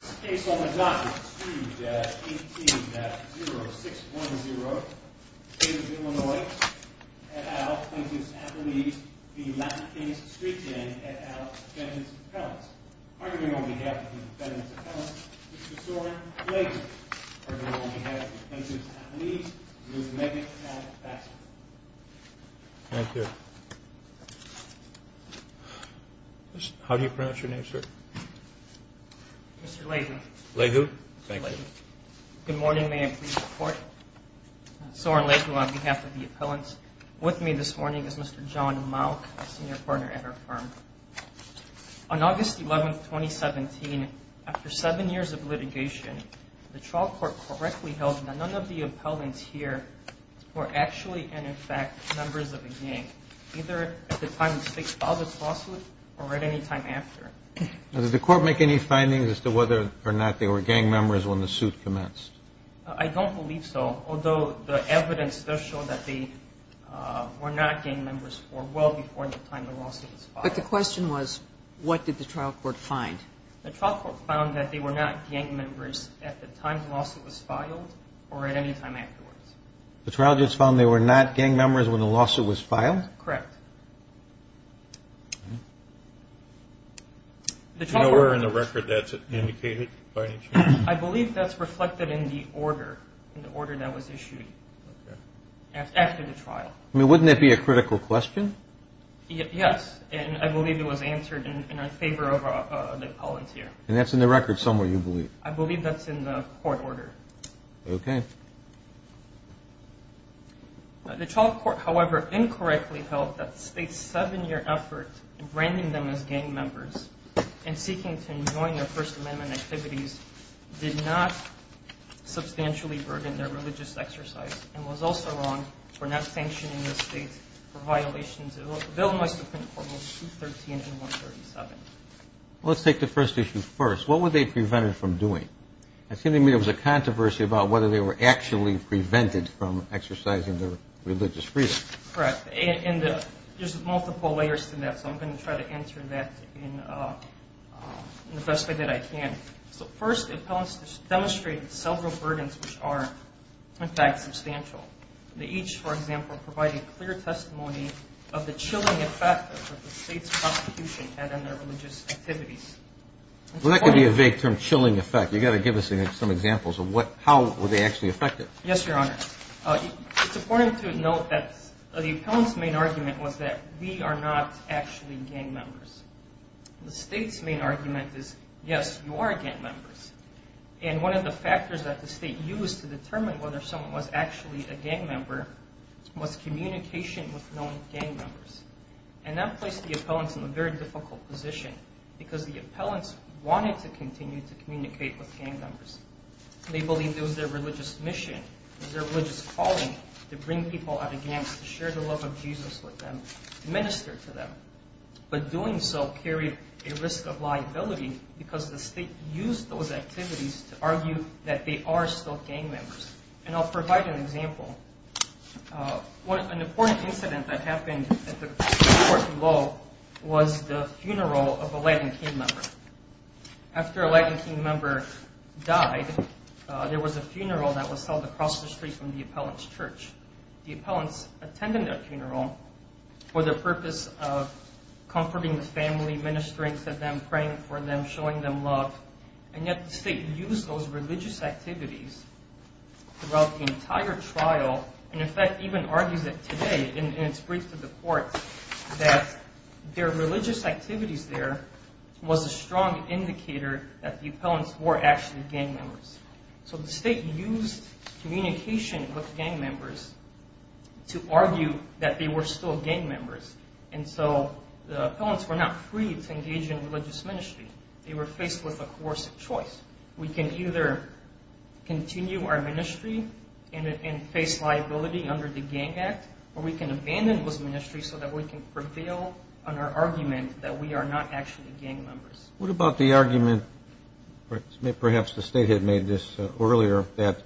This case on the dot is Street Gang, 18-0610, Davis, Illinois, et al., Plaintiffs Appellees v. Latin Kings Street Gang, et al., Defendants Appellants. Arguing on behalf of the Defendants Appellants, Mr. Soren Lager. Arguing on behalf of the Plaintiffs Appellees, Ms. Megan Alex Baxter. Thank you. Mr. Lager. Lager. Thank you. Good morning. May I please report? Soren Lager on behalf of the Appellants. With me this morning is Mr. John Malk, a senior partner at our firm. On August 11, 2017, after seven years of litigation, the trial court correctly held that none of the appellants here were actually, and in fact, members of a gang, either at the time the state filed its lawsuit or at any time after. Does the court make any findings as to whether or not they were gang members when the suit commenced? I don't believe so, although the evidence does show that they were not gang members for well before the time the lawsuit was filed. But the question was, what did the trial court find? The trial court found that they were not gang members at the time the lawsuit was filed or at any time afterwards. The trial just found they were not gang members when the lawsuit was filed? Correct. Do you know where in the record that's indicated by any chance? I believe that's reflected in the order, in the order that was issued after the trial. I mean, wouldn't that be a critical question? Yes, and I believe it was answered in our favor of the appellants here. And that's in the record somewhere, you believe? I believe that's in the court order. Okay. The trial court, however, incorrectly held that the state's seven-year effort in branding them as gang members and seeking to enjoin their First Amendment activities did not substantially burden their religious exercise and was also wrong for not sanctioning the state for violations of the Bill of Rights within Formals 213 and 137. Well, let's take the first issue first. What were they prevented from doing? It seemed to me there was a controversy about whether they were actually prevented from exercising their religious freedom. Correct. And there's multiple layers to that, so I'm going to try to answer that in the best way that I can. So first, appellants demonstrated several burdens which are, in fact, substantial. They each, for example, provided clear testimony of the chilling effect that the state's prosecution had on their religious activities. Well, that could be a vague term, chilling effect. You've got to give us some examples of how were they actually affected. Yes, Your Honor. It's important to note that the appellant's main argument was that we are not actually gang members. The state's main argument is, yes, you are gang members. And one of the factors that the state used to determine whether someone was actually a gang member was communication with known gang members. And that placed the appellants in a very difficult position because the appellants wanted to continue to communicate with gang members. They believed it was their religious mission, it was their religious calling to bring people out of gangs, to share the love of Jesus with them, to minister to them. But doing so carried a risk of liability because the state used those activities to argue that they are still gang members. And I'll provide an example. An important incident that happened at the court below was the funeral of a Latin King member. After a Latin King member died, there was a funeral that was held across the street from the appellant's church. The appellants attended their funeral for the purpose of comforting the family, ministering to them, praying for them, showing them love. And yet the state used those religious activities throughout the entire trial, and in fact even argues it today in its brief to the court, that their religious activities there was a strong indicator that the appellants were actually gang members. So the state used communication with gang members to argue that they were still gang members. And so the appellants were not free to engage in religious ministry. They were faced with a coercive choice. We can either continue our ministry and face liability under the Gang Act, or we can abandon those ministries so that we can prevail on our argument that we are not actually gang members. What about the argument, perhaps the state had made this earlier, that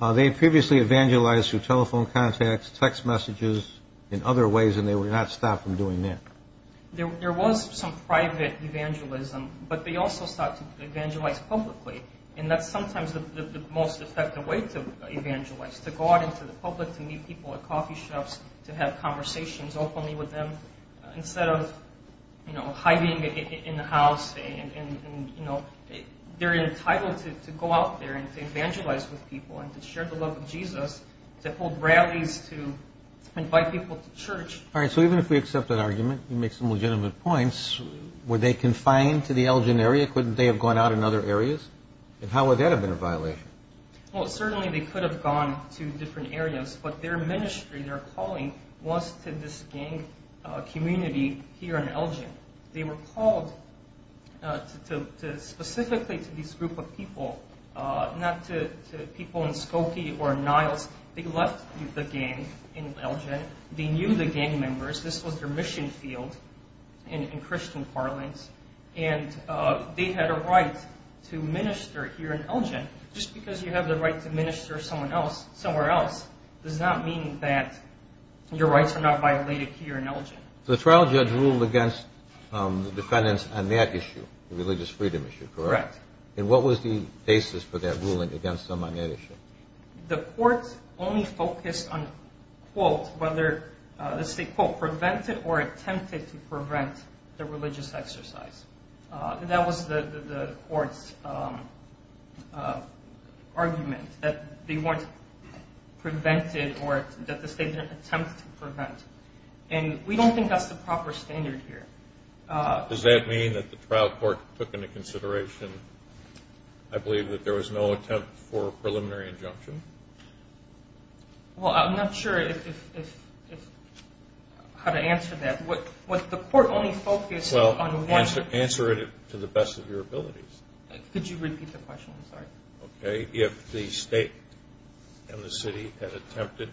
they had previously evangelized through telephone contacts, text messages, and other ways, and they were not stopped from doing that? There was some private evangelism, but they also started to evangelize publicly, and that's sometimes the most effective way to evangelize, to go out into the public to meet people at coffee shops, to have conversations openly with them, instead of hiding in the house. They're entitled to go out there and to evangelize with people and to share the love of Jesus, to hold rallies, to invite people to church. All right, so even if we accept that argument, you make some legitimate points, were they confined to the Elgin area? Couldn't they have gone out in other areas? And how would that have been a violation? Well, certainly they could have gone to different areas, but their ministry, their calling was to this gang community here in Elgin. They were called specifically to this group of people, not to people in Skokie or Niles. They left the gang in Elgin. They knew the gang members. This was their mission field in Christian parlance, and they had a right to minister here in Elgin. Just because you have the right to minister somewhere else does not mean that your rights are not violated here in Elgin. So the trial judge ruled against the defendants on that issue, the religious freedom issue, correct? Correct. And what was the basis for that ruling against them on that issue? The court only focused on, quote, whether the state, quote, prevented or attempted to prevent the religious exercise. That was the court's argument, that they weren't prevented or that the state didn't attempt to prevent. And we don't think that's the proper standard here. Does that mean that the trial court took into consideration, I believe, that there was no attempt for a preliminary injunction? Well, I'm not sure how to answer that. The court only focused on one. Answer it to the best of your abilities. Could you repeat the question? I'm sorry. Okay. If the state and the city had attempted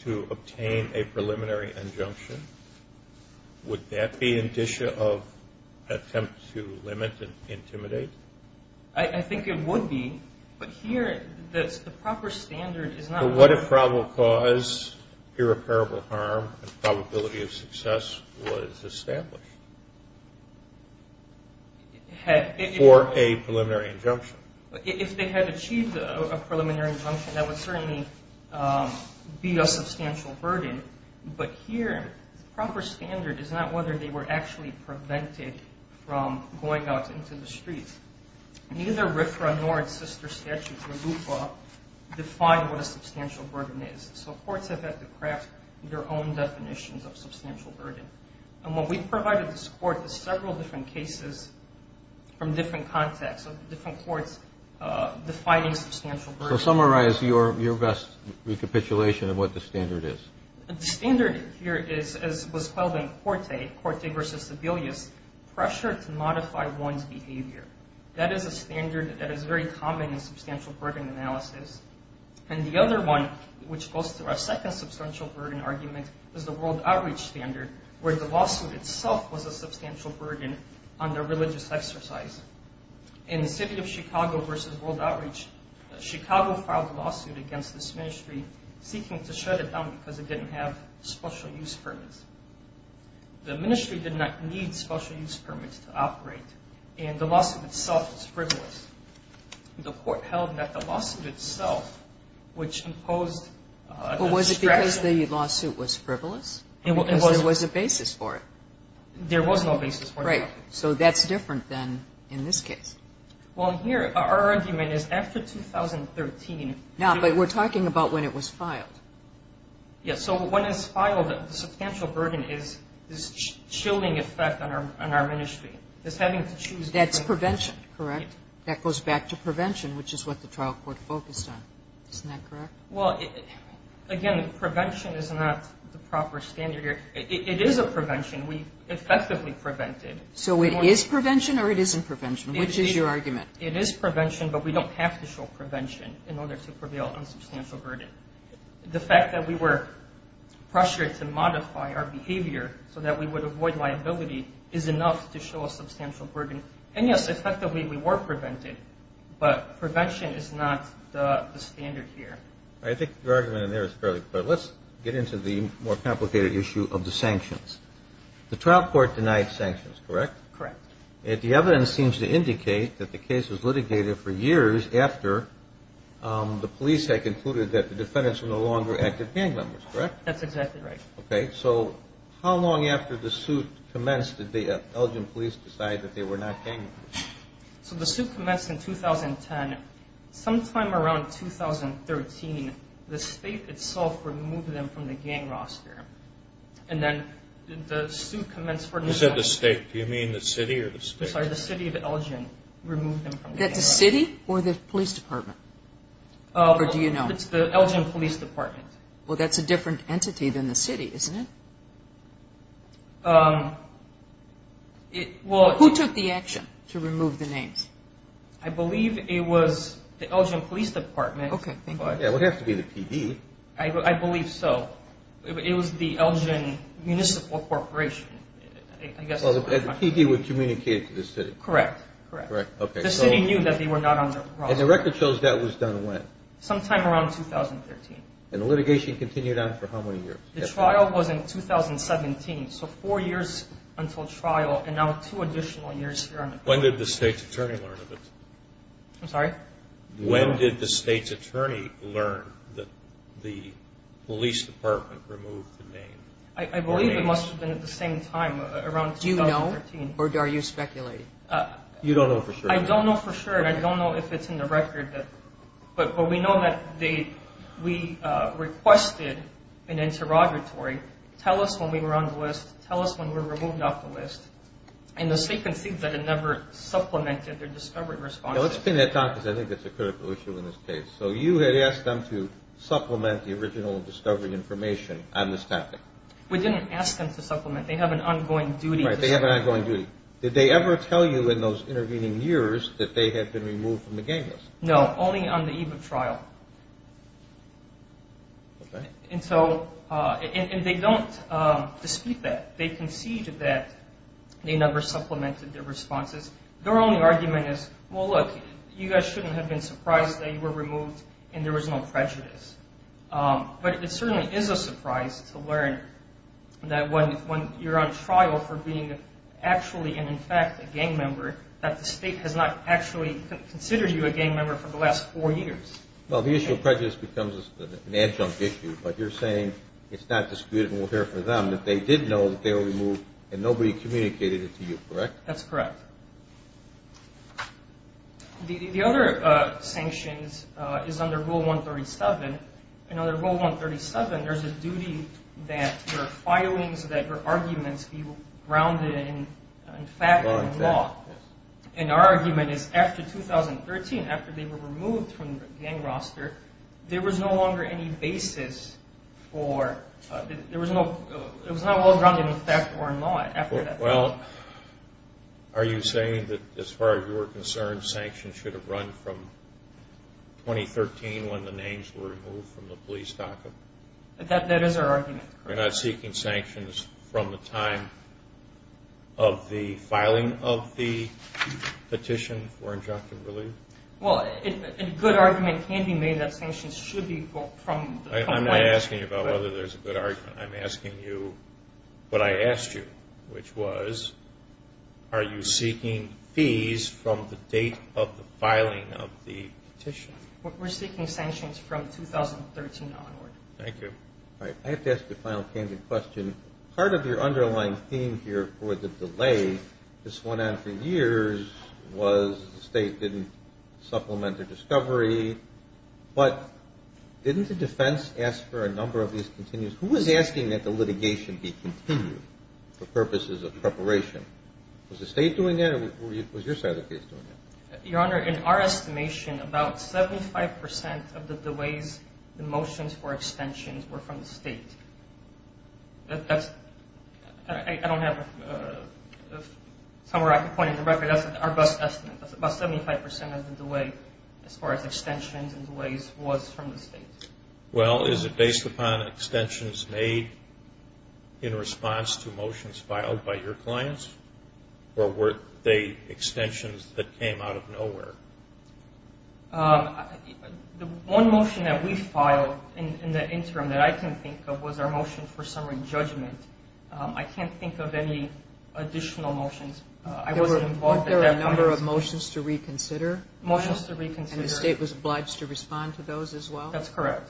to obtain a preliminary injunction, would that be an issue of attempt to limit and intimidate? I think it would be. But here, the proper standard is not whether. But what if probable cause, irreparable harm, and probability of success was established for a preliminary injunction? If they had achieved a preliminary injunction, that would certainly be a substantial burden. But here, the proper standard is not whether they were actually prevented from going out into the streets. Neither RFRA nor its sister statutes or LUPA define what a substantial burden is. So courts have had to craft their own definitions of substantial burden. And what we've provided this court is several different cases from different contexts, so different courts defining substantial burden. So summarize your best recapitulation of what the standard is. The standard here is, as was called in Corte, Corte versus Sebelius, pressure to modify one's behavior. That is a standard that is very common in substantial burden analysis. And the other one, which goes through our second substantial burden argument, is the World Outreach Standard, where the lawsuit itself was a substantial burden under religious exercise. In the city of Chicago versus World Outreach, Chicago filed a lawsuit against this ministry, seeking to shut it down because it didn't have special use permits. The ministry did not need special use permits to operate, and the lawsuit itself was frivolous. The court held that the lawsuit itself, which imposed a distraction... But was it because the lawsuit was frivolous, or because there was a basis for it? There was no basis for it. Right, so that's different than in this case. Well, here, our argument is after 2013... No, but we're talking about when it was filed. Yes, so when it's filed, the substantial burden is this chilling effect on our ministry. It's having to choose... That's prevention, correct? That goes back to prevention, which is what the trial court focused on. Isn't that correct? Well, again, prevention is not the proper standard here. It is a prevention. We effectively prevented. So it is prevention or it isn't prevention? Which is your argument? It is prevention, but we don't have to show prevention in order to prevail on substantial burden. The fact that we were pressured to modify our behavior so that we would avoid liability is enough to show a substantial burden. And, yes, effectively we were prevented, but prevention is not the standard here. All right, I think your argument in there is fairly clear. Let's get into the more complicated issue of the sanctions. The trial court denied sanctions, correct? Correct. And the evidence seems to indicate that the case was litigated for years after the police had concluded that the defendants were no longer active gang members, correct? That's exactly right. Okay, so how long after the suit commenced did the Elgin police decide that they were not gang members? So the suit commenced in 2010. Sometime around 2013, the state itself removed them from the gang roster. And then the suit commenced for another year. You said the state. Do you mean the city or the state? I'm sorry, the city of Elgin removed them from the gang roster. The city or the police department? Or do you know? It's the Elgin police department. Well, that's a different entity than the city, isn't it? Who took the action to remove the names? I believe it was the Elgin police department. Okay, thank you. Yeah, it would have to be the PD. I believe so. It was the Elgin Municipal Corporation, I guess is what I'm trying to say. Well, the PD would communicate to the city. Correct, correct. Correct, okay. The city knew that they were not on the roster. And the record shows that was done when? Sometime around 2013. And the litigation continued on for how many years? The trial was in 2017, so four years until trial and now two additional years here on the court. When did the state's attorney learn of it? I'm sorry? When did the state's attorney learn that the police department removed the name? I believe it must have been at the same time, around 2013. Do you know or are you speculating? You don't know for sure. I don't know for sure, and I don't know if it's in the record. But we know that we requested an interrogatory, tell us when we were on the list, and the state concedes that it never supplemented their discovery responses. Now, let's spend that time because I think that's a critical issue in this case. So you had asked them to supplement the original discovery information on this topic? We didn't ask them to supplement. They have an ongoing duty. Right, they have an ongoing duty. Did they ever tell you in those intervening years that they had been removed from the gang list? No, only on the eve of trial. Okay. And so they don't dispute that. They concede that they never supplemented their responses. Their only argument is, well, look, you guys shouldn't have been surprised that you were removed and there was no prejudice. But it certainly is a surprise to learn that when you're on trial for being actually and, in fact, a gang member, that the state has not actually considered you a gang member for the last four years. Well, the issue of prejudice becomes an adjunct issue, but you're saying it's not disputable here for them that they did know that they were removed and nobody communicated it to you, correct? That's correct. The other sanctions is under Rule 137, and under Rule 137 there's a duty that your filings, that your arguments be grounded in fact and law. And our argument is after 2013, after they were removed from the gang roster, there was no longer any basis for, it was not well-grounded in fact or law after that. Well, are you saying that, as far as you're concerned, sanctions should have run from 2013 when the names were removed from the police docket? That is our argument. You're not seeking sanctions from the time of the filing of the petition for adjunct and relief? Well, a good argument can be made that sanctions should be from the time of the petition. I'm not asking you about whether there's a good argument. I'm asking you what I asked you, which was, are you seeking fees from the date of the filing of the petition? We're seeking sanctions from 2013 onward. Thank you. All right. I have to ask a final, candid question. Part of your underlying theme here for the delay, this went on for years, was the state didn't supplement the discovery, but didn't the defense ask for a number of these continues? Who was asking that the litigation be continued for purposes of preparation? Was the state doing that or was your side of the case doing that? Your Honor, in our estimation, about 75 percent of the delays in motions for extensions were from the state. I don't have somewhere I can point in the record. That's our best estimate. About 75 percent of the delay as far as extensions and delays was from the state. Well, is it based upon extensions made in response to motions filed by your clients The one motion that we filed in the interim that I can think of was our motion for summary judgment. I can't think of any additional motions. I wasn't involved at that point. There were a number of motions to reconsider. Motions to reconsider. And the state was obliged to respond to those as well? That's correct.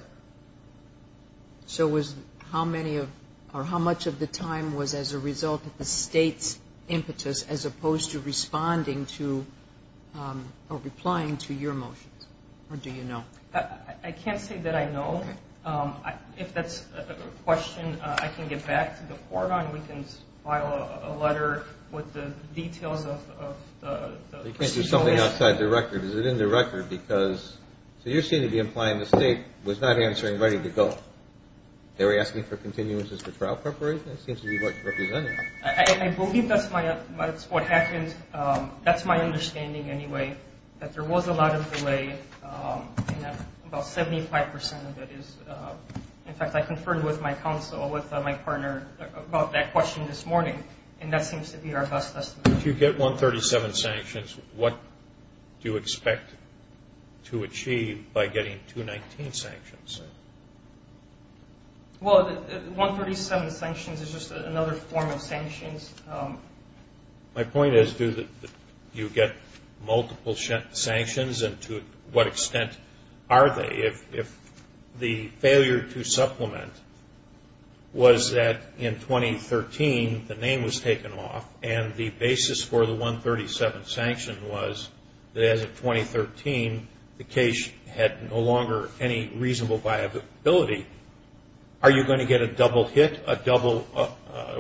So was how many of or how much of the time was as a result of the state's impetus as opposed to responding to or replying to your motions? Or do you know? I can't say that I know. Okay. If that's a question, I can get back to the court on it. We can file a letter with the details of the procedure. You can't do something outside the record. Is it in the record? Because you seem to be implying the state was not answering ready to go. They were asking for continuances for trial preparation. It seems to be what you're representing. I believe that's what happened. That's my understanding anyway, that there was a lot of delay and that about 75% of it is. In fact, I conferred with my counsel, with my partner, about that question this morning, and that seems to be our best estimate. If you get 137 sanctions, what do you expect to achieve by getting 219 sanctions? Well, 137 sanctions is just another form of sanctions. My point is, do you get multiple sanctions, and to what extent are they? If the failure to supplement was that in 2013 the name was taken off, and the basis for the 137 sanction was that as of 2013, the case had no longer any reasonable viability, are you going to get a double hit, a double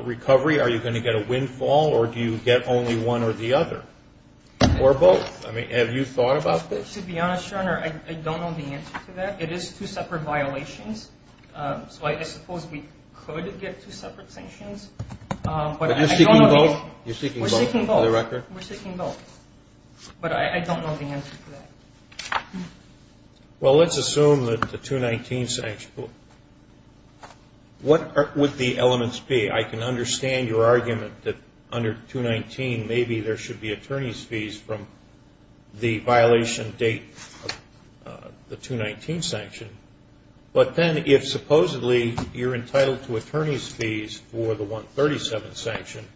recovery? Are you going to get a windfall, or do you get only one or the other, or both? I mean, have you thought about this? To be honest, Your Honor, I don't know the answer to that. It is two separate violations, so I suppose we could get two separate sanctions. But you're seeking both? We're seeking both. For the record? We're seeking both. But I don't know the answer to that. Well, let's assume that the 219 sanctions, what would the elements be? I can understand your argument that under 219 maybe there should be attorney's fees from the violation date of the 219 sanction, but then if supposedly you're entitled to attorney's fees for the 137 sanction,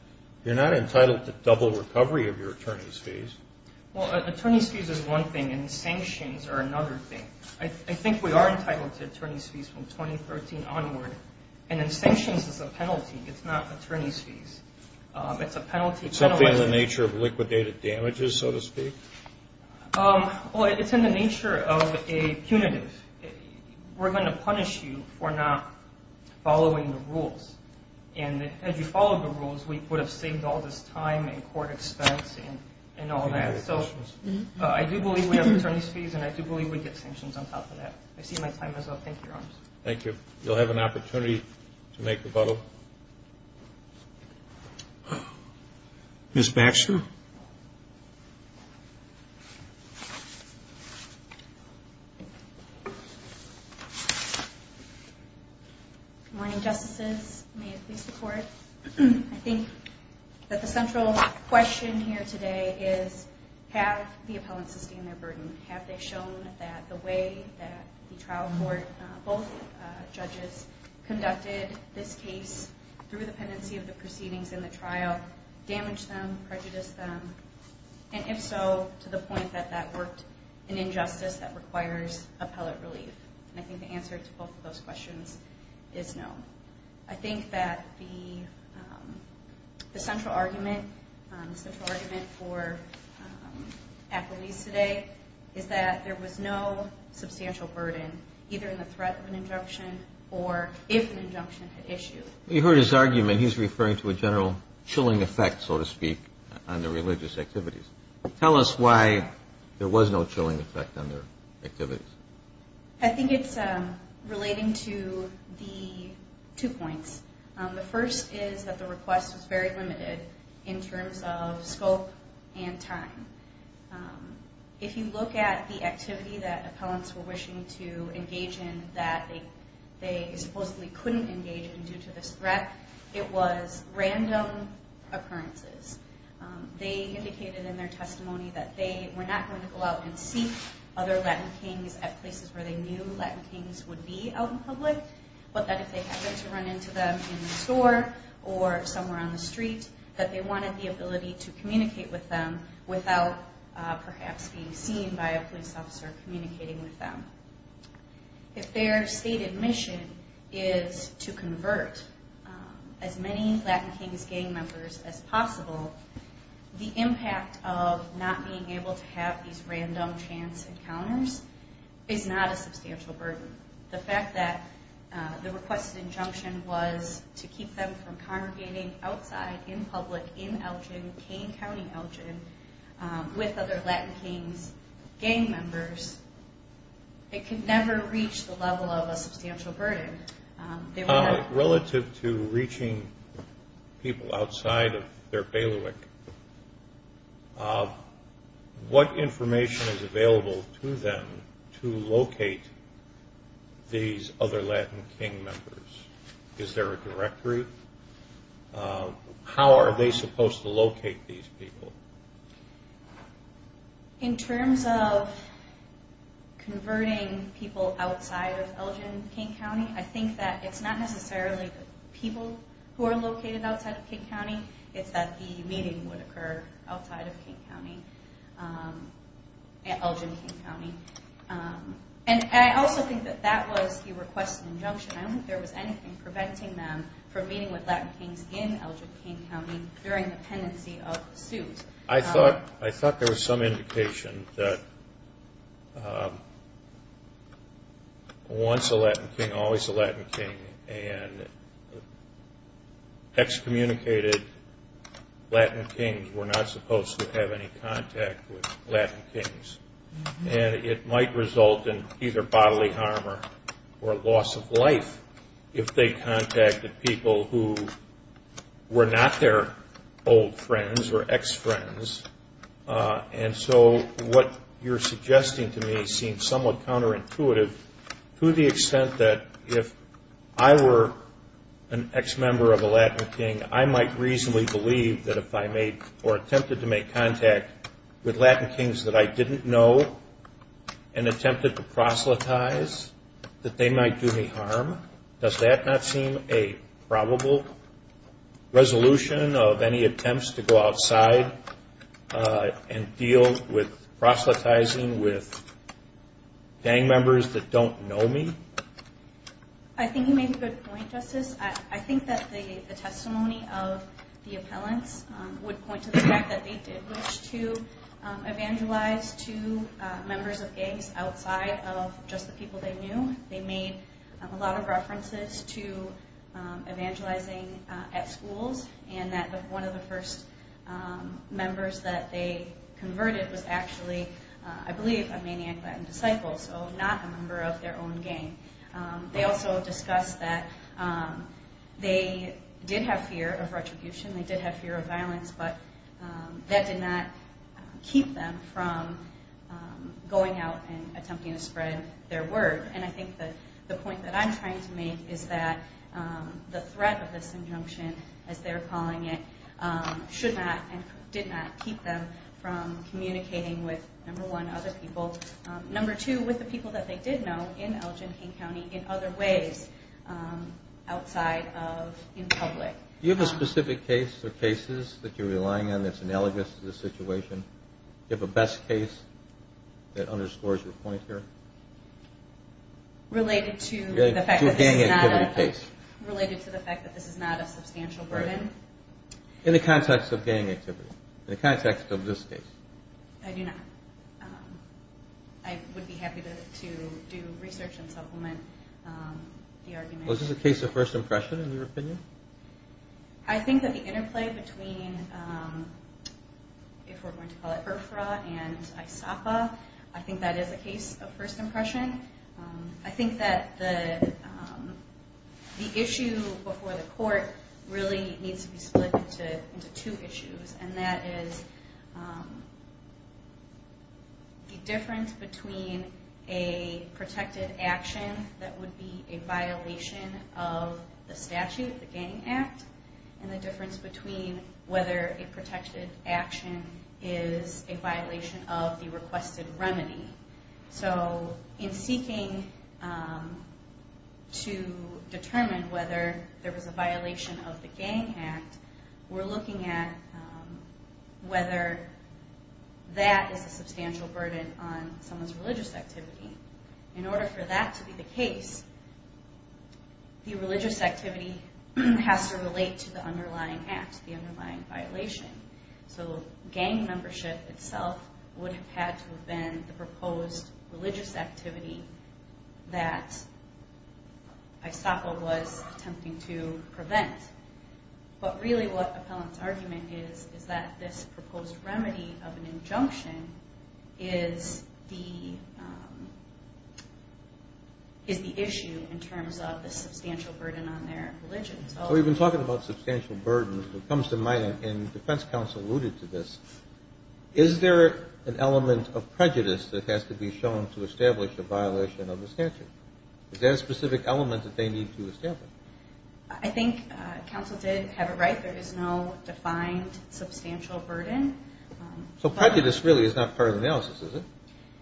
you're not entitled to double recovery of your attorney's fees. Well, attorney's fees is one thing, and sanctions are another thing. I think we are entitled to attorney's fees from 2013 onward, and then sanctions is a penalty. It's not attorney's fees. It's a penalty. It's something in the nature of liquidated damages, so to speak? Well, it's in the nature of a punitive. We're going to punish you for not following the rules. As you follow the rules, we would have saved all this time and court expense and all that. So I do believe we have attorney's fees, and I do believe we get sanctions on top of that. I see my time is up. Thank you, Your Honors. Thank you. You'll have an opportunity to make rebuttal. Ms. Baxter? Good morning, Justices. May it please the Court. I think that the central question here today is have the appellants sustained their burden? Have they shown that the way that the trial court, both judges, conducted this case through the pendency of the proceedings in the trial damaged them, prejudiced them? And if so, to the point that that worked an injustice that requires appellate relief? And I think the answer to both of those questions is no. I think that the central argument for appellees today is that there was no substantial burden, either in the threat of an injunction or if an injunction had issued. You heard his argument. He's referring to a general chilling effect, so to speak, on the religious activities. Tell us why there was no chilling effect on their activities. I think it's relating to the two points. The first is that the request was very limited in terms of scope and time. If you look at the activity that appellants were wishing to engage in that they supposedly couldn't engage in due to this threat, it was random occurrences. They indicated in their testimony that they were not going to go out and seek other Latin kings at places where they knew Latin kings would be out in public, but that if they happened to run into them in the store or somewhere on the street, that they wanted the ability to communicate with them without perhaps being seen by a police officer communicating with them. If their stated mission is to convert as many Latin kings gang members as possible, the impact of not being able to have these random chance encounters is not a substantial burden. The fact that the requested injunction was to keep them from congregating outside in public in Elgin, with other Latin kings gang members, it could never reach the level of a substantial burden. Relative to reaching people outside of their bailiwick, what information is available to them to locate these other Latin king members? Is there a directory? How are they supposed to locate these people? In terms of converting people outside of Elgin King County, I think that it's not necessarily the people who are located outside of King County, it's that the meeting would occur outside of King County, Elgin King County. And I also think that that was the requested injunction. I don't think there was anything preventing them from meeting with Latin kings in Elgin King County during the pendency of suit. I thought there was some indication that once a Latin king, always a Latin king, and excommunicated Latin kings were not supposed to have any contact with Latin kings. And it might result in either bodily harm or loss of life if they contacted people who were not their old friends or ex-friends. And so what you're suggesting to me seems somewhat counterintuitive to the extent that if I were an ex-member of a Latin king, I might reasonably believe that if I made or attempted to make contact with Latin kings that I didn't know and attempted to proselytize that they might do me harm. Does that not seem a probable resolution of any attempts to go outside and deal with proselytizing with gang members that don't know me? I think you made a good point, Justice. I think that the testimony of the appellants would point to the fact that they did wish to evangelize to members of gangs outside of just the people they knew. They made a lot of references to evangelizing at schools and that one of the first members that they converted was actually, I believe, a maniac Latin disciple, so not a member of their own gang. They also discussed that they did have fear of retribution, they did have fear of violence, but that did not keep them from going out and attempting to spread their word. And I think the point that I'm trying to make is that the threat of this injunction, as they're calling it, should not and did not keep them from communicating with, number one, other people. Number two, with the people that they did know in Elgin, King County, in other ways outside of in public. Do you have a specific case or cases that you're relying on that's analogous to this situation? Do you have a best case that underscores your point here? Related to the fact that this is not a substantial burden? In the context of gang activity, in the context of this case. I do not. I would be happy to do research and supplement the argument. Was this a case of first impression, in your opinion? I think that the interplay between, if we're going to call it IRFRA and ISAPA, I think that is a case of first impression. I think that the issue before the court really needs to be split into two issues, and that is the difference between a protected action that would be a violation of the statute, the Gang Act, and the difference between whether a protected action is a violation of the requested remedy. In seeking to determine whether there was a violation of the Gang Act, we're looking at whether that is a substantial burden on someone's religious activity. In order for that to be the case, the religious activity has to relate to the underlying act, the underlying violation. So gang membership itself would have had to have been the proposed religious activity that ISAPA was attempting to prevent. But really what Appellant's argument is, is that this proposed remedy of an injunction is the issue in terms of the substantial burden on their religion. We've been talking about substantial burdens. It comes to mind, and the defense counsel alluded to this, is there an element of prejudice that has to be shown to establish a violation of the statute? Is there a specific element that they need to establish? I think counsel did have it right. There is no defined substantial burden. So prejudice really is not part of the analysis, is it?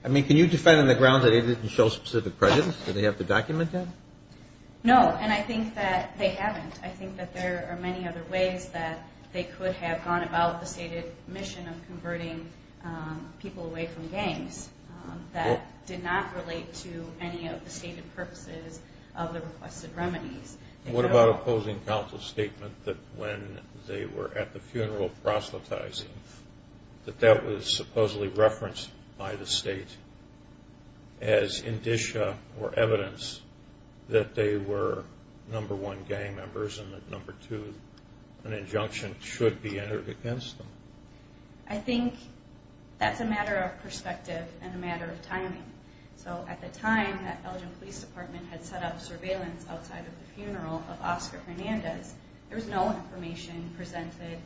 I mean, can you defend on the grounds that they didn't show specific prejudice? Do they have the document yet? No, and I think that they haven't. I think that there are many other ways that they could have gone about the stated mission of converting people away from gangs that did not relate to any of the stated purposes of the requested remedies. What about opposing counsel's statement that when they were at the funeral proselytizing, that that was supposedly referenced by the state as indicia or evidence that they were number one gang members and that number two, an injunction should be entered against them? I think that's a matter of perspective and a matter of timing. So at the time that Elgin Police Department had set up surveillance outside of the funeral of Oscar Hernandez, there was no information presented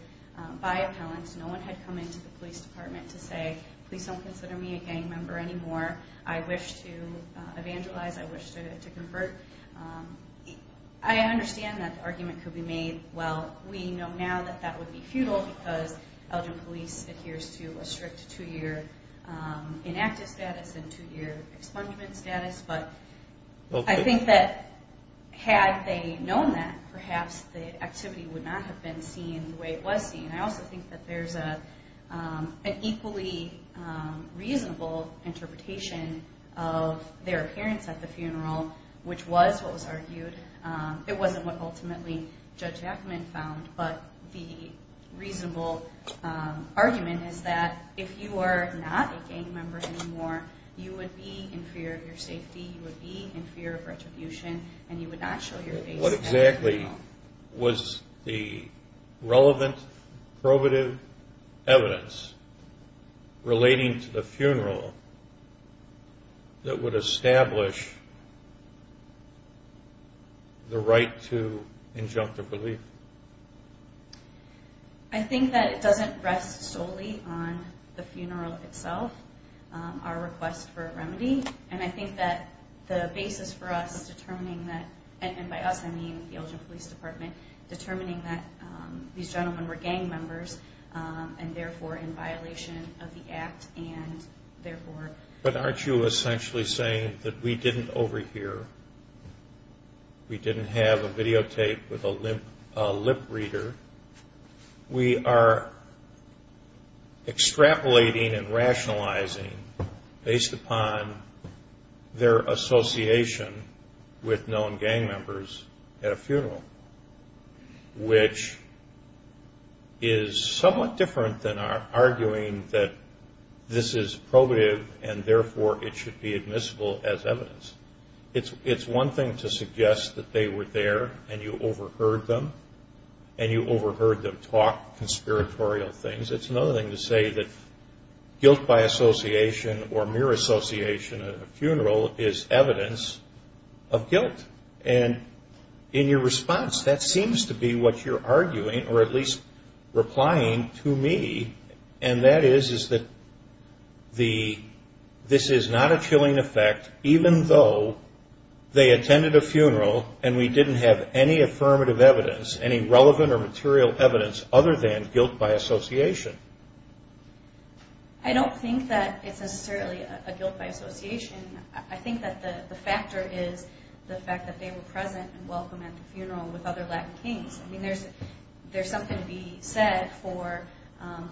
by appellants. No one had come into the police department to say, Please don't consider me a gang member anymore. I wish to evangelize. I wish to convert. I understand that the argument could be made, Well, we know now that that would be futile because Elgin Police adheres to a strict two-year inactive status and two-year expungement status. I think that had they known that, perhaps the activity would not have been seen the way it was seen. I also think that there's an equally reasonable interpretation of their appearance at the funeral, which was what was argued. It wasn't what ultimately Judge Ackman found, but the reasonable argument is that if you are not a gang member anymore, you would be in fear of your safety, you would be in fear of retribution, and you would not show your face at the funeral. What exactly was the relevant probative evidence relating to the funeral that would establish the right to injunctive relief? I think that it doesn't rest solely on the funeral itself. Our request for a remedy, and I think that the basis for us determining that, and by us I mean the Elgin Police Department, determining that these gentlemen were gang members and therefore in violation of the act and therefore... But aren't you essentially saying that we didn't overhear? We didn't have a videotape with a lip reader. We are extrapolating and rationalizing based upon their association with known gang members at a funeral, which is somewhat different than arguing that this is probative and therefore it should be admissible as evidence. It's one thing to suggest that they were there and you overheard them, and you overheard them talk conspiratorial things. It's another thing to say that guilt by association or mere association at a funeral is evidence of guilt. And in your response, that seems to be what you're arguing, or at least replying to me, and that is that this is not a chilling effect, even though they attended a funeral and we didn't have any affirmative evidence, any relevant or material evidence other than guilt by association. I don't think that it's necessarily a guilt by association. I think that the factor is the fact that they were present and welcome at the funeral with other Latin kings. I mean, there's something to be said for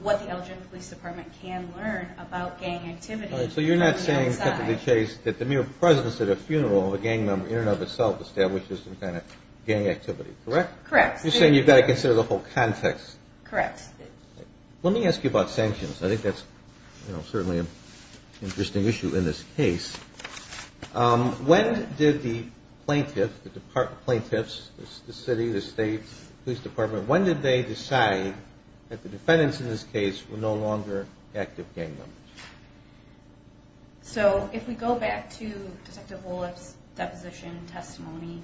what the Elgin Police Department can learn about gang activity from the outside. All right, so you're not saying, Deputy Chase, that the mere presence at a funeral of a gang member in and of itself establishes some kind of gang activity, correct? Correct. You're saying you've got to consider the whole context. Correct. Let me ask you about sanctions. I think that's certainly an interesting issue in this case. When did the plaintiffs, the city, the state police department, when did they decide that the defendants in this case were no longer active gang members? So if we go back to Detective Woloff's deposition testimony,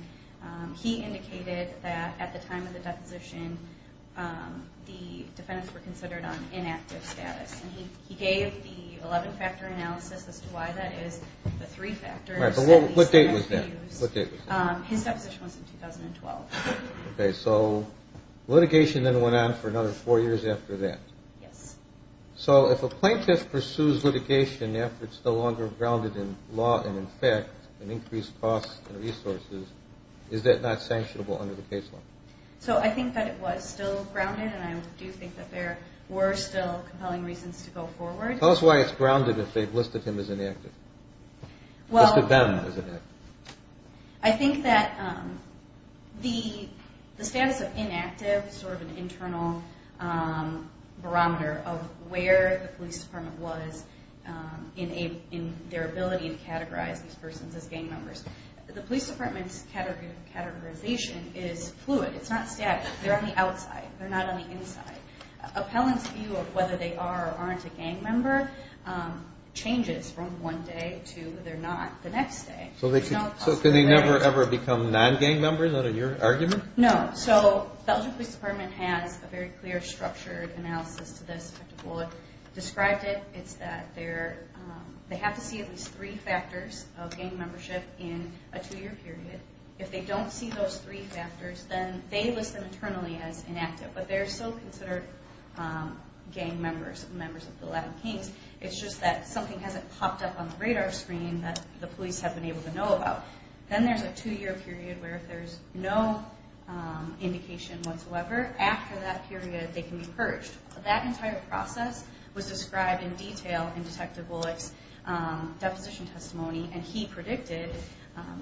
he indicated that at the time of the deposition the defendants were considered on inactive status. And he gave the 11-factor analysis as to why that is, the three factors. All right, but what date was that? What date was that? His deposition was in 2012. Okay, so litigation then went on for another four years after that. Yes. So if a plaintiff pursues litigation after it's no longer grounded in law and in fact in increased costs and resources, is that not sanctionable under the case law? So I think that it was still grounded, and I do think that there were still compelling reasons to go forward. Tell us why it's grounded if they've listed him as inactive, listed them as inactive. I think that the status of inactive is sort of an internal barometer of where the police department was in their ability to categorize these persons as gang members. The police department's categorization is fluid. It's not static. They're on the outside. They're not on the inside. Appellants' view of whether they are or aren't a gang member changes from one day to they're not the next day. So could they never ever become non-gang members? Is that your argument? No. So the Elgin Police Department has a very clear, structured analysis to this. Described it, it's that they have to see at least three factors of gang membership in a two-year period. If they don't see those three factors, then they list them internally as inactive, but they're still considered gang members, members of the Latin Kings. It's just that something hasn't popped up on the radar screen that the police have been able to know about. Then there's a two-year period where if there's no indication whatsoever, after that period they can be purged. That entire process was described in detail in Detective Bullock's deposition testimony, and he predicted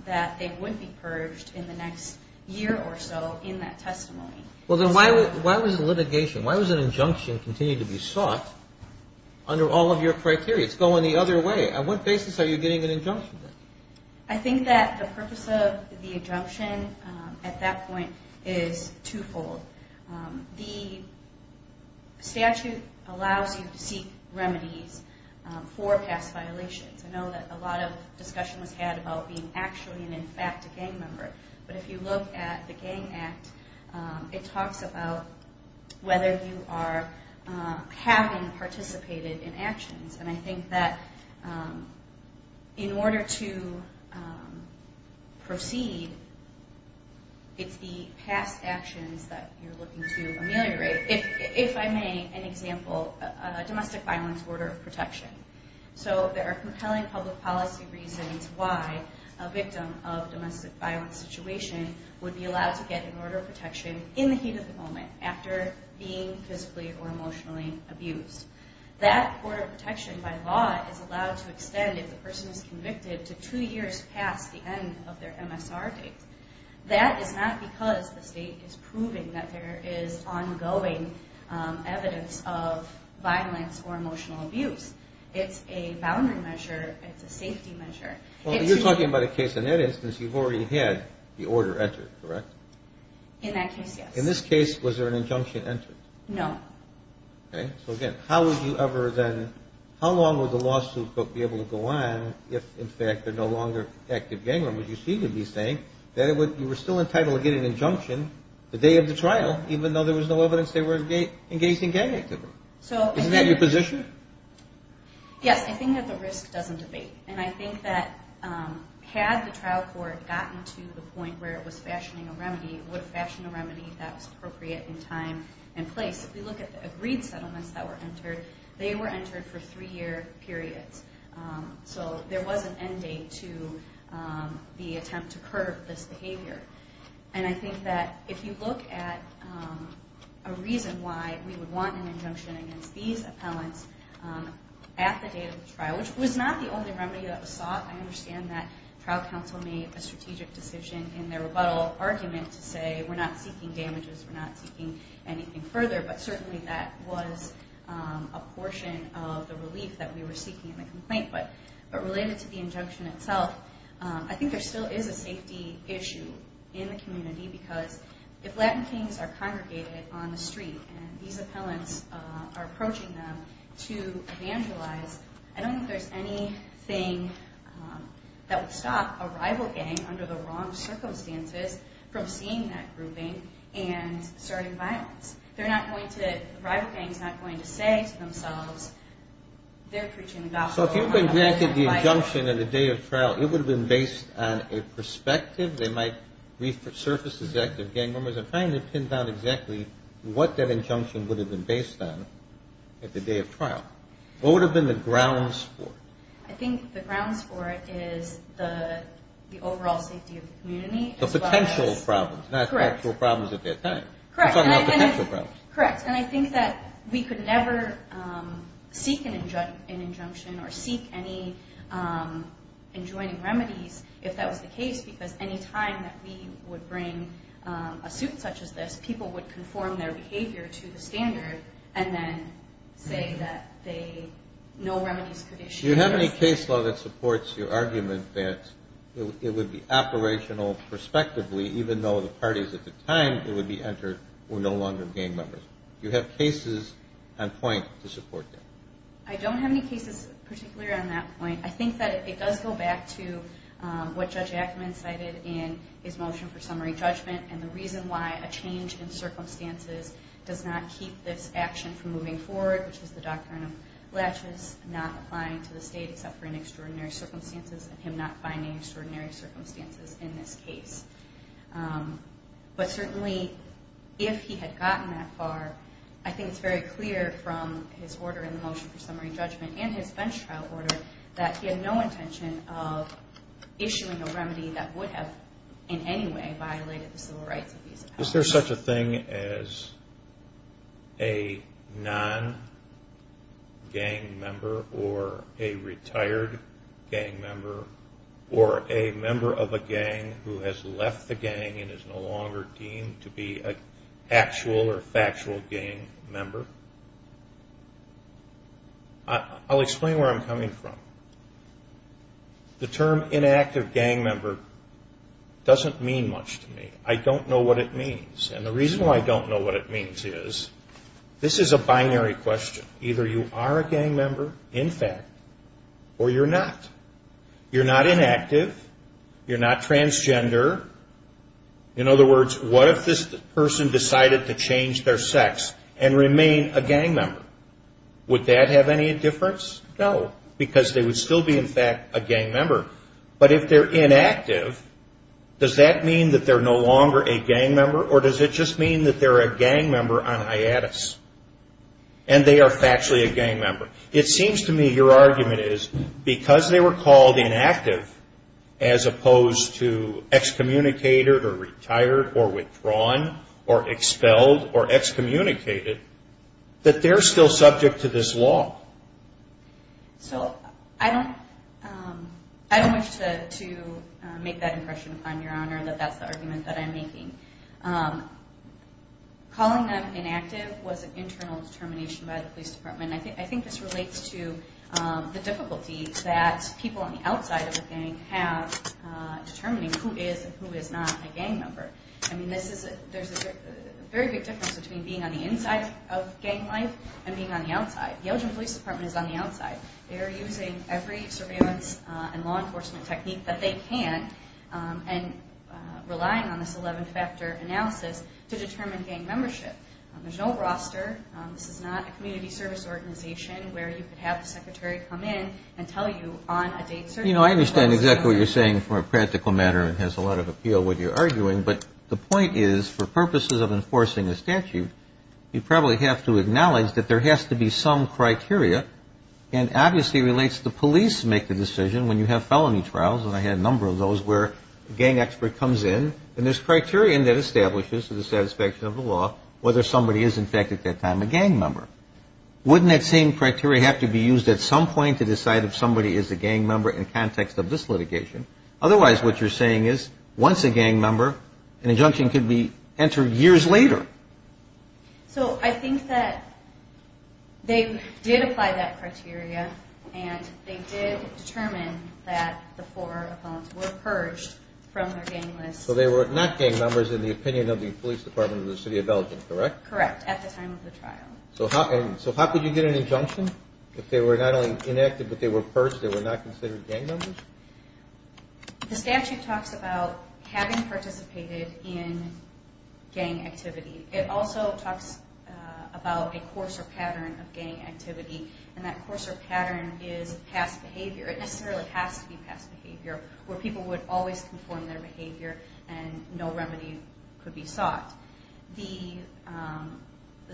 that they wouldn't be purged in the next year or so in that testimony. Well, then why was litigation, why was an injunction continued to be sought under all of your criteria? It's going the other way. On what basis are you getting an injunction? I think that the purpose of the injunction at that point is twofold. The statute allows you to seek remedies for past violations. I know that a lot of discussion was had about being actually and in fact a gang member, but if you look at the Gang Act, it talks about whether you are having participated in actions. I think that in order to proceed, it's the past actions that you're looking to ameliorate. If I may, an example, a domestic violence order of protection. There are compelling public policy reasons why a victim of a domestic violence situation would be allowed to get an order of protection in the heat of the moment after being physically or emotionally abused. That order of protection by law is allowed to extend if the person is convicted to two years past the end of their MSR date. That is not because the state is proving that there is ongoing evidence of violence or emotional abuse. It's a boundary measure. It's a safety measure. You're talking about a case in that instance you've already had the order entered, correct? In that case, yes. In this case, was there an injunction entered? No. Okay. So again, how long would the lawsuit be able to go on if, in fact, they're no longer active gang members? You seem to be saying that you were still entitled to get an injunction the day of the trial, even though there was no evidence they were engaged in gang activity. Isn't that your position? Yes. I think that the risk doesn't debate. And I think that had the trial court gotten to the point where it was fashioning a remedy, it would have fashioned a remedy that was appropriate in time and place. If you look at the agreed settlements that were entered, they were entered for three-year periods. So there was an end date to the attempt to curb this behavior. And I think that if you look at a reason why we would want an injunction against these appellants at the date of the trial, I understand that trial counsel made a strategic decision in their rebuttal argument to say we're not seeking damages, we're not seeking anything further. But certainly that was a portion of the relief that we were seeking in the complaint. But related to the injunction itself, I think there still is a safety issue in the community because if Latin kings are congregated on the street and these appellants are approaching them to evangelize, I don't think there's anything that would stop a rival gang, under the wrong circumstances, from seeing that grouping and starting violence. The rival gang is not going to say to themselves, they're preaching the gospel. So if you've been granted the injunction at the day of trial, it would have been based on a perspective. They might resurface as active gang members. I'm trying to pin down exactly what that injunction would have been based on at the day of trial. What would have been the grounds for it? I think the grounds for it is the overall safety of the community. The potential problems, not actual problems at that time. Correct. I'm talking about potential problems. Correct. And I think that we could never seek an injunction or seek any enjoining remedies if that was the case because any time that we would bring a suit such as this, people would conform their behavior to the standard and then say that no remedies could be issued. Do you have any case law that supports your argument that it would be operational prospectively, even though the parties at the time it would be entered were no longer gang members? Do you have cases on point to support that? I don't have any cases particularly on that point. I think that it does go back to what Judge Ackerman cited in his motion for summary judgment and the reason why a change in circumstances does not keep this action from moving forward, which is the doctrine of laches, not applying to the state except for in extraordinary circumstances, and him not finding extraordinary circumstances in this case. But certainly if he had gotten that far, I think it's very clear from his order in the motion for summary judgment and his bench trial order that he had no intention of issuing a remedy that would have in any way violated the civil rights of these appellants. Is there such a thing as a non-gang member or a retired gang member or a member of a gang who has left the gang and is no longer deemed to be an actual or factual gang member? I'll explain where I'm coming from. The term inactive gang member doesn't mean much to me. I don't know what it means. And the reason why I don't know what it means is this is a binary question. Either you are a gang member, in fact, or you're not. You're not inactive. You're not transgender. In other words, what if this person decided to change their sex and remain a gang member? Would that have any difference? No, because they would still be, in fact, a gang member. But if they're inactive, does that mean that they're no longer a gang member or does it just mean that they're a gang member on hiatus and they are factually a gang member? It seems to me your argument is because they were called inactive as opposed to excommunicated or retired or withdrawn or expelled or excommunicated that they're still subject to this law. So I don't wish to make that impression, Your Honor, that that's the argument that I'm making. Calling them inactive was an internal determination by the police department. I think this relates to the difficulties that people on the outside of the gang have determining who is and who is not a gang member. I mean, there's a very big difference between being on the inside of gang life and being on the outside. The Elgin Police Department is on the outside. They are using every surveillance and law enforcement technique that they can and relying on this 11-factor analysis to determine gang membership. There's no roster. This is not a community service organization where you could have the secretary come in You know, I understand exactly what you're saying from a practical matter. It has a lot of appeal with your arguing. But the point is, for purposes of enforcing a statute, you probably have to acknowledge that there has to be some criteria. And obviously it relates to the police make the decision when you have felony trials, and I had a number of those where a gang expert comes in, and there's criteria that establishes to the satisfaction of the law whether somebody is, in fact, at that time a gang member. Wouldn't that same criteria have to be used at some point to decide if somebody is a gang member in context of this litigation? Otherwise, what you're saying is, once a gang member, an injunction could be entered years later. So I think that they did apply that criteria, and they did determine that the four felons were purged from their gang list. So they were not gang members in the opinion of the police department of the city of Elgin, correct? Correct, at the time of the trial. So how could you get an injunction if they were not only enacted but they were purged, they were not considered gang members? The statute talks about having participated in gang activity. It also talks about a coarser pattern of gang activity, and that coarser pattern is past behavior. It necessarily has to be past behavior where people would always conform their behavior and no remedy could be sought. The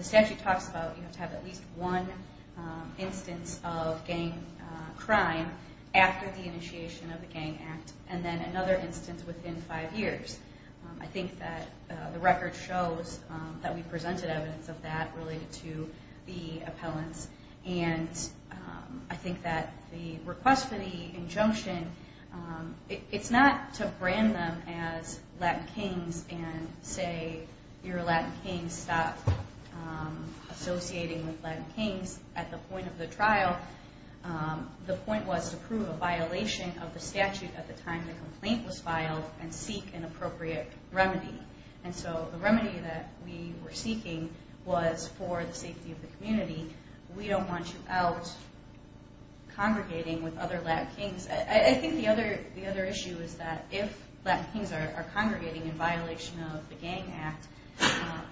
statute talks about you have to have at least one instance of gang crime after the initiation of the Gang Act, and then another instance within five years. I think that the record shows that we presented evidence of that related to the appellants, and I think that the request for the injunction, it's not to brand them as Latin kings and say, you're a Latin king, stop associating with Latin kings. At the point of the trial, the point was to prove a violation of the statute at the time the complaint was filed and seek an appropriate remedy. And so the remedy that we were seeking was for the safety of the community. We don't want you out congregating with other Latin kings. I think the other issue is that if Latin kings are congregating in violation of the Gang Act,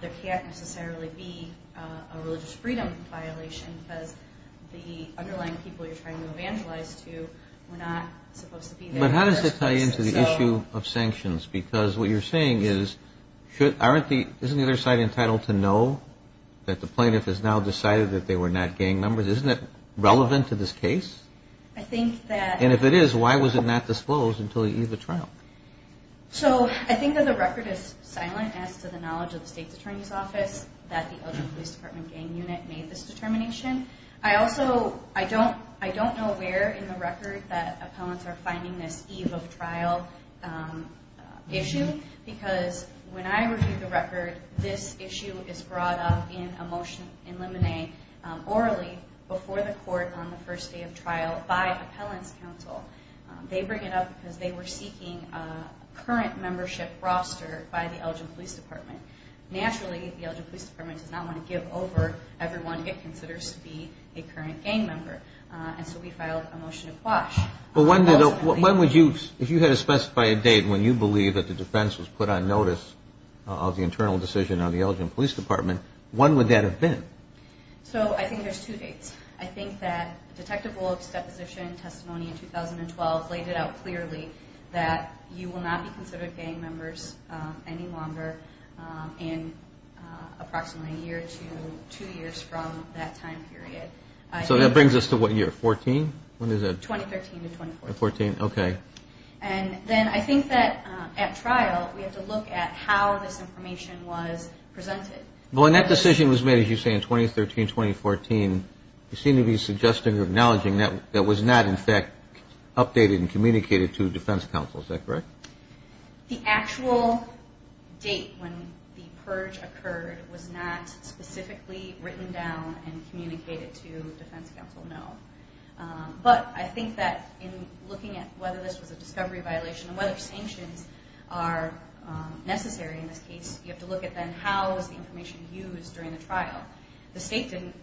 there can't necessarily be a religious freedom violation because the underlying people you're trying to evangelize to were not supposed to be there. But how does this tie into the issue of sanctions? Because what you're saying is, isn't the other side entitled to know that the plaintiff has now decided that they were not gang members? Isn't it relevant to this case? And if it is, why was it not disclosed until the eve of trial? So I think that the record is silent as to the knowledge of the State's Attorney's Office that the Elgin Police Department gang unit made this determination. I also don't know where in the record that appellants are finding this eve of trial issue because when I reviewed the record, this issue is brought up in a motion in limine orally before the court on the first day of trial by appellants' counsel. They bring it up because they were seeking a current membership roster by the Elgin Police Department. Naturally, the Elgin Police Department does not want to give over everyone it considers to be a current gang member. And so we filed a motion to quash. If you had to specify a date when you believe that the defense was put on notice of the internal decision on the Elgin Police Department, when would that have been? So I think there's two dates. I think that Detective Wolff's deposition testimony in 2012 laid it out clearly that you will not be considered gang members any longer in approximately a year to two years from that time period. So that brings us to what year? 14? When is that? 2013 to 2014. 2014, okay. And then I think that at trial, we have to look at how this information was presented. Well, when that decision was made, as you say, in 2013, 2014, you seem to be suggesting or acknowledging that it was not, in fact, updated and communicated to defense counsel. Is that correct? The actual date when the purge occurred was not specifically written down and communicated to defense counsel, no. But I think that in looking at whether this was a discovery violation and whether sanctions are necessary in this case, you have to look at then how is the information used during the trial. The state didn't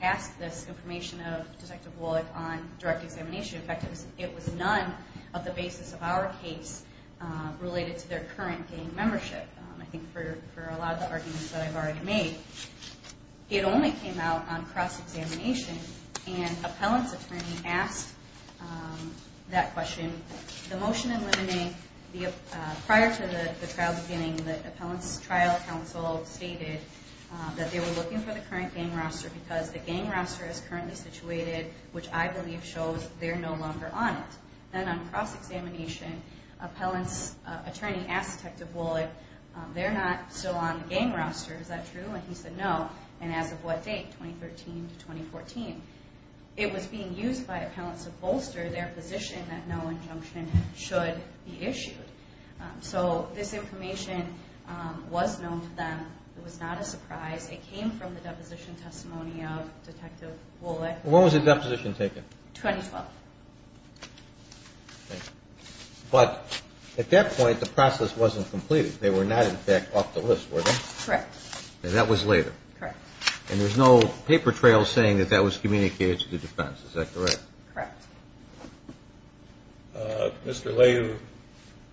ask this information of Detective Wolff on direct examination. In fact, it was none of the basis of our case related to their current gang membership. I think for a lot of the arguments that I've already made, it only came out on cross-examination and appellant's attorney asked that question. The motion eliminating prior to the trial beginning, the appellant's trial counsel stated that they were looking for the current gang roster because the gang roster is currently situated, which I believe shows they're no longer on it. Then on cross-examination, appellant's attorney asked Detective Wolff, they're not still on the gang roster. Is that true? And he said no. And as of what date? 2013 to 2014. It was being used by appellants to bolster their position that no injunction should be issued. So this information was known to them. It was not a surprise. It came from the deposition testimony of Detective Wolff. When was the deposition taken? 2012. But at that point, the process wasn't completed. They were not, in fact, off the list, were they? Correct. And that was later. Correct. And there's no paper trail saying that that was communicated to the defense. Is that correct? Correct. Mr. Lay, you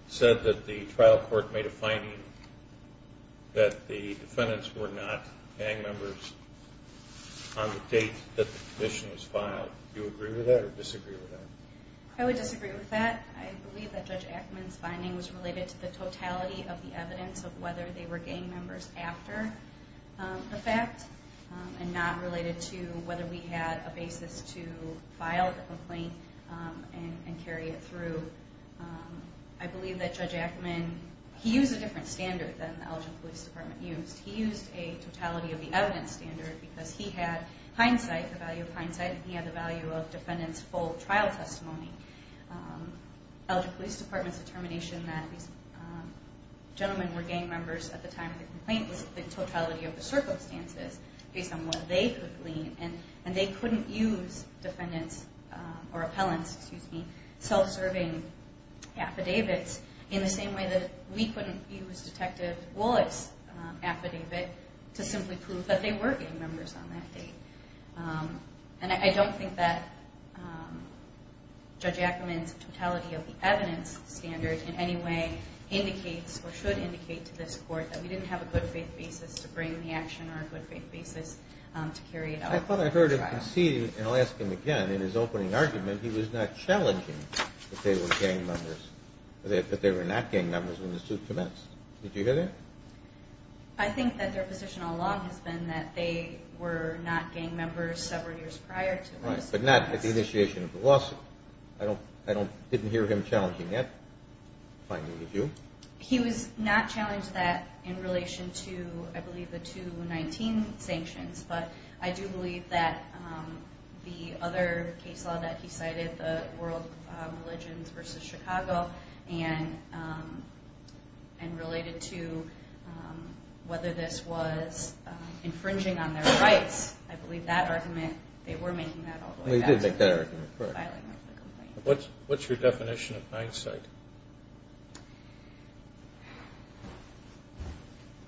said that the trial court made a finding that the defendants were not gang members on the date that the condition was filed. Do you agree with that or disagree with that? I would disagree with that. I believe that Judge Ackman's finding was related to the totality of the evidence of whether they were gang members after the fact and not related to whether we had a basis to file the complaint and carry it through. I believe that Judge Ackman, he used a different standard than the Elgin Police Department used. He used a totality of the evidence standard because he had hindsight, the value of hindsight, and he had the value of defendants' full trial testimony. Elgin Police Department's determination that these gentlemen were gang members at the time of the complaint was the totality of the circumstances based on what they could glean, and they couldn't use defendants' or appellants' self-serving affidavits in the same way that we couldn't use Detective Wollett's affidavit to simply prove that they were gang members on that date. And I don't think that Judge Ackman's totality of the evidence standard in any way indicates or should indicate to this Court that we didn't have a good faith basis to bring the action or a good faith basis to carry it out. I thought I heard him conceding, and I'll ask him again, in his opening argument, he was not challenging that they were gang members, that they were not gang members when the suit commenced. Did you hear that? I think that their position all along has been that they were not gang members several years prior to when the suit commenced. Right, but not at the initiation of the lawsuit. I didn't hear him challenging that finding, did you? He was not challenged that in relation to, I believe, the 2019 sanctions, but I do believe that the other case law that he cited, the World Religions v. Chicago, and related to whether this was infringing on their rights, I believe that argument, they were making that all the way back. They did make that argument, correct. What's your definition of hindsight?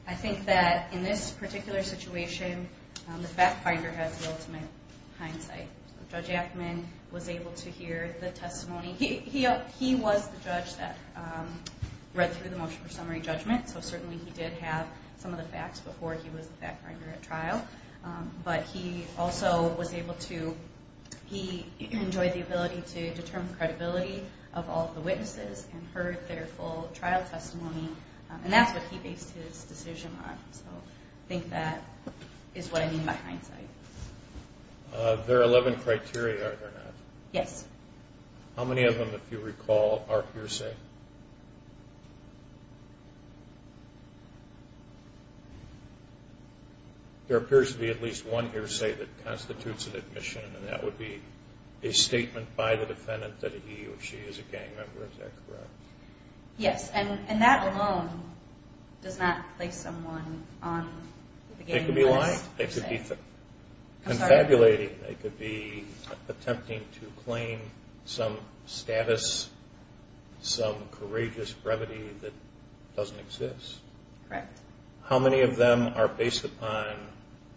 I think that in this particular situation, the fact finder has the ultimate hindsight. Judge Ackman was able to hear the testimony. He was the judge that read through the motion for summary judgment, so certainly he did have some of the facts before he was the fact finder at trial, but he also was able to enjoy the ability to determine the credibility of all the witnesses and heard their full trial testimony, and that's what he based his decision on. So I think that is what I mean by hindsight. There are 11 criteria, are there not? Yes. How many of them, if you recall, are hearsay? There appears to be at least one hearsay that constitutes an admission, and that would be a statement by the defendant that he or she is a gang member. Is that correct? They could be lying. They could be confabulating. They could be attempting to claim some status, some courageous brevity that doesn't exist. Correct. How many of them are based upon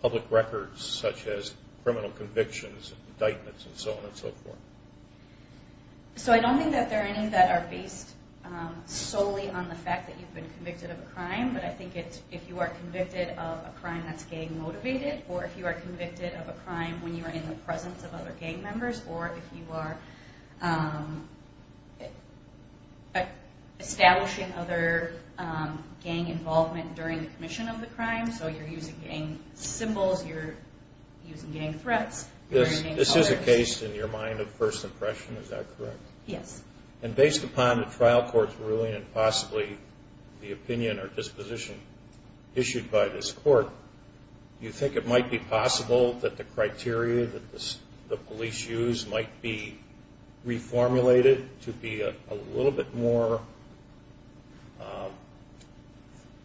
public records, such as criminal convictions, indictments, and so on and so forth? So I don't think that there are any that are based solely on the fact that you've been convicted of a crime, but I think if you are convicted of a crime that's gang-motivated, or if you are convicted of a crime when you are in the presence of other gang members, or if you are establishing other gang involvement during the commission of the crime, so you're using gang symbols, you're using gang threats. This is a case, in your mind, of first impression, is that correct? Yes. And based upon the trial court's ruling and possibly the opinion or disposition issued by this court, do you think it might be possible that the criteria that the police use might be reformulated to be a little bit more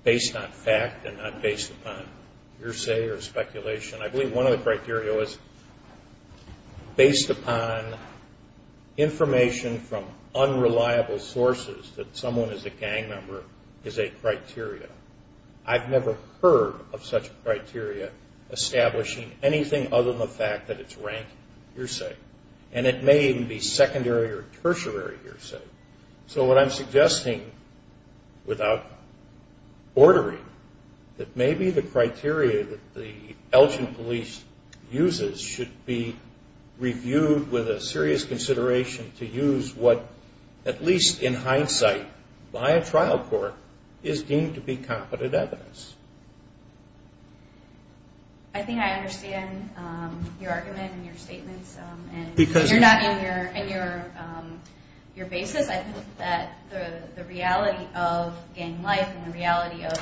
based on fact and not based upon hearsay or speculation? I believe one of the criteria was based upon information from unreliable sources that someone is a gang member is a criteria. I've never heard of such a criteria establishing anything other than the fact that it's rank hearsay, and it may even be secondary or tertiary hearsay. So what I'm suggesting, without bordering, that maybe the criteria that the Elgin police uses should be reviewed with a serious consideration to use what, at least in hindsight, by a trial court, is deemed to be competent evidence. I think I understand your argument and your statements. You're not in your basis. I think that the reality of gang life and the reality of...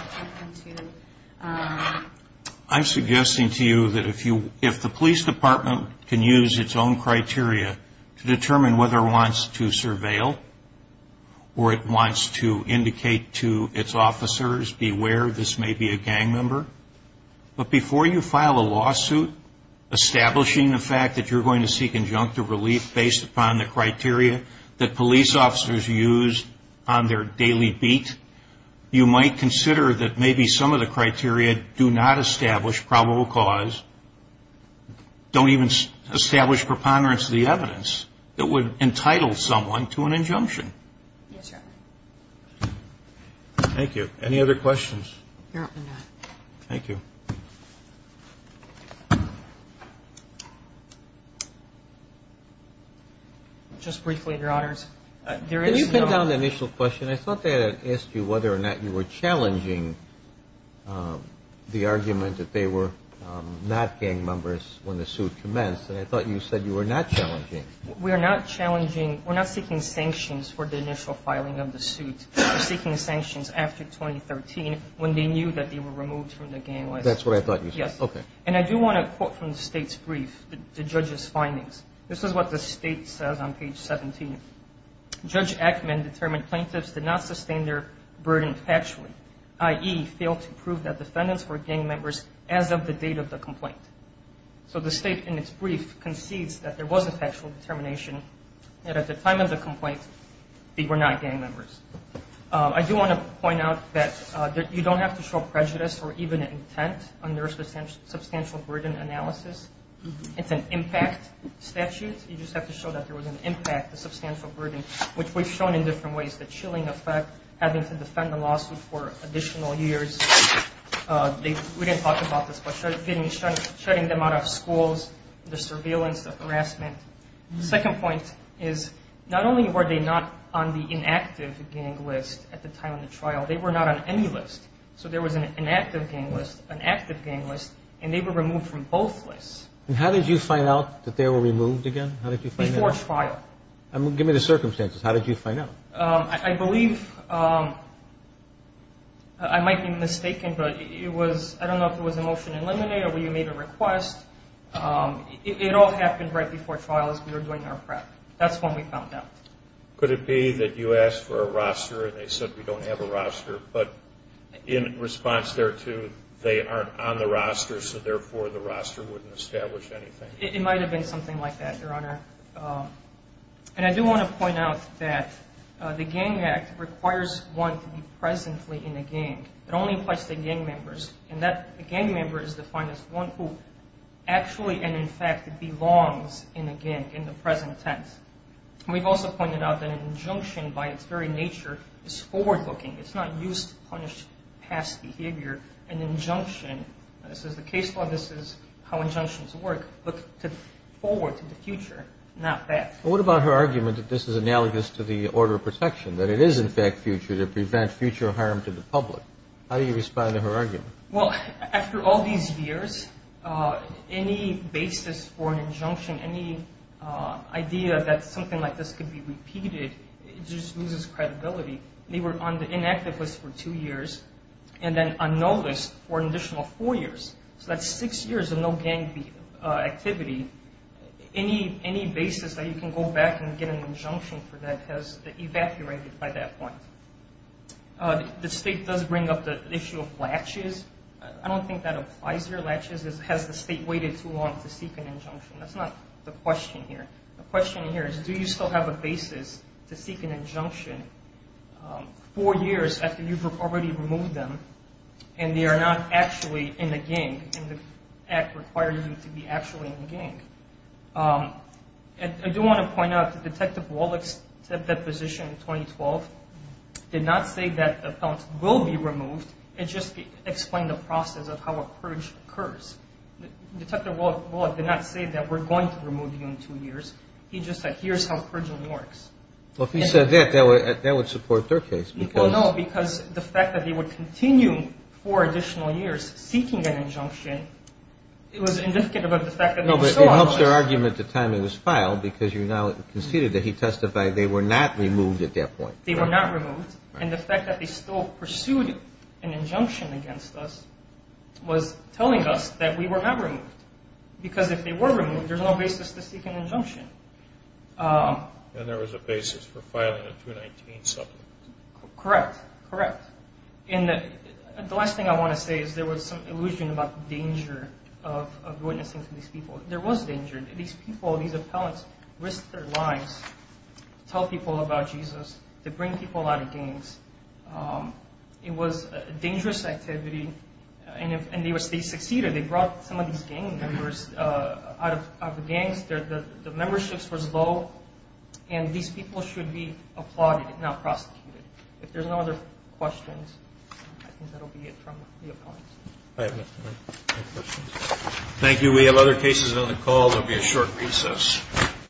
I'm suggesting to you that if the police department can use its own criteria to determine whether it wants to surveil or it wants to indicate to its officers, beware, this may be a gang member. But before you file a lawsuit establishing the fact that you're going to seek injunctive relief based upon the criteria that police officers use on their daily beat, you might consider that maybe some of the criteria do not establish probable cause, don't even establish preponderance of the evidence that would entitle someone to an injunction. Yes, sir. Thank you. Any other questions? No. Thank you. Just briefly, Your Honors, there is no... Can you pin down the initial question? I thought they had asked you whether or not you were challenging the argument that they were not gang members when the suit commenced, and I thought you said you were not challenging. We are not challenging. We're not seeking sanctions for the initial filing of the suit. We're seeking sanctions after 2013 when they knew that they were removed from the gang life. That's what I thought you said. Yes. Okay. And I do want to quote from the State's brief, the judge's findings. This is what the State says on page 17. Judge Ackman determined plaintiffs did not sustain their burden factually, i.e., failed to prove that defendants were gang members as of the date of the complaint. So the State in its brief concedes that there was a factual determination that at the time of the complaint they were not gang members. I do want to point out that you don't have to show prejudice or even intent under a substantial burden analysis. It's an impact statute. You just have to show that there was an impact, a substantial burden, which we've shown in different ways, the chilling effect, having to defend the lawsuit for additional years. We didn't talk about this, but shutting them out of schools, the surveillance, the harassment. The second point is not only were they not on the inactive gang list at the time of the trial, they were not on any list. So there was an inactive gang list, an active gang list, and they were removed from both lists. And how did you find out that they were removed again? How did you find out? Before trial. Give me the circumstances. How did you find out? I believe I might be mistaken, but it was, I don't know if it was a motion in limine or you made a request. It all happened right before trial as we were doing our prep. That's when we found out. Could it be that you asked for a roster and they said we don't have a roster, but in response thereto they aren't on the roster, so therefore the roster wouldn't establish anything? It might have been something like that, Your Honor. And I do want to point out that the Gang Act requires one to be presently in a gang. It only applies to gang members, and a gang member is defined as one who actually and in fact belongs in a gang in the present tense. And we've also pointed out that an injunction by its very nature is forward-looking. It's not used to punish past behavior. An injunction, this is the case law, this is how injunctions work, look forward to the future, not back. What about her argument that this is analogous to the order of protection, that it is in fact future to prevent future harm to the public? How do you respond to her argument? Well, after all these years, any basis for an injunction, any idea that something like this could be repeated just loses credibility. They were on the inactive list for two years and then on no list for an additional four years. So that's six years of no gang activity. Any basis that you can go back and get an injunction for that has evacuated by that point. The state does bring up the issue of latches. I don't think that applies here. Latches has the state waited too long to seek an injunction. That's not the question here. The question here is do you still have a basis to seek an injunction four years after you've already removed them and they are not actually in the gang and the act requires them to be actually in the gang. I do want to point out that Detective Wallach's position in 2012 did not say that the felons will be removed. It just explained the process of how a purge occurs. Detective Wallach did not say that we're going to remove you in two years. He just said here's how purging works. Well, if he said that, that would support their case. Well, no, because the fact that he would continue four additional years seeking an injunction, it was indicative of the fact that they were still alive. No, but it helps their argument the time it was filed because you now conceded that he testified they were not removed at that point. They were not removed. And the fact that they still pursued an injunction against us was telling us that we were not removed. Because if they were removed, there's no basis to seek an injunction. And there was a basis for filing a 219 supplement. Correct, correct. And the last thing I want to say is there was some illusion about the danger of witnessing to these people. There was danger. These people, these appellants risked their lives to tell people about Jesus, to bring people out of gangs. It was a dangerous activity, and they succeeded. They brought some of these gang members out of the gangs. The memberships were low, and these people should be applauded, not prosecuted. If there's no other questions, I think that will be it from the appellants. I have no questions. Thank you. We have other cases on the call. There will be a short recess.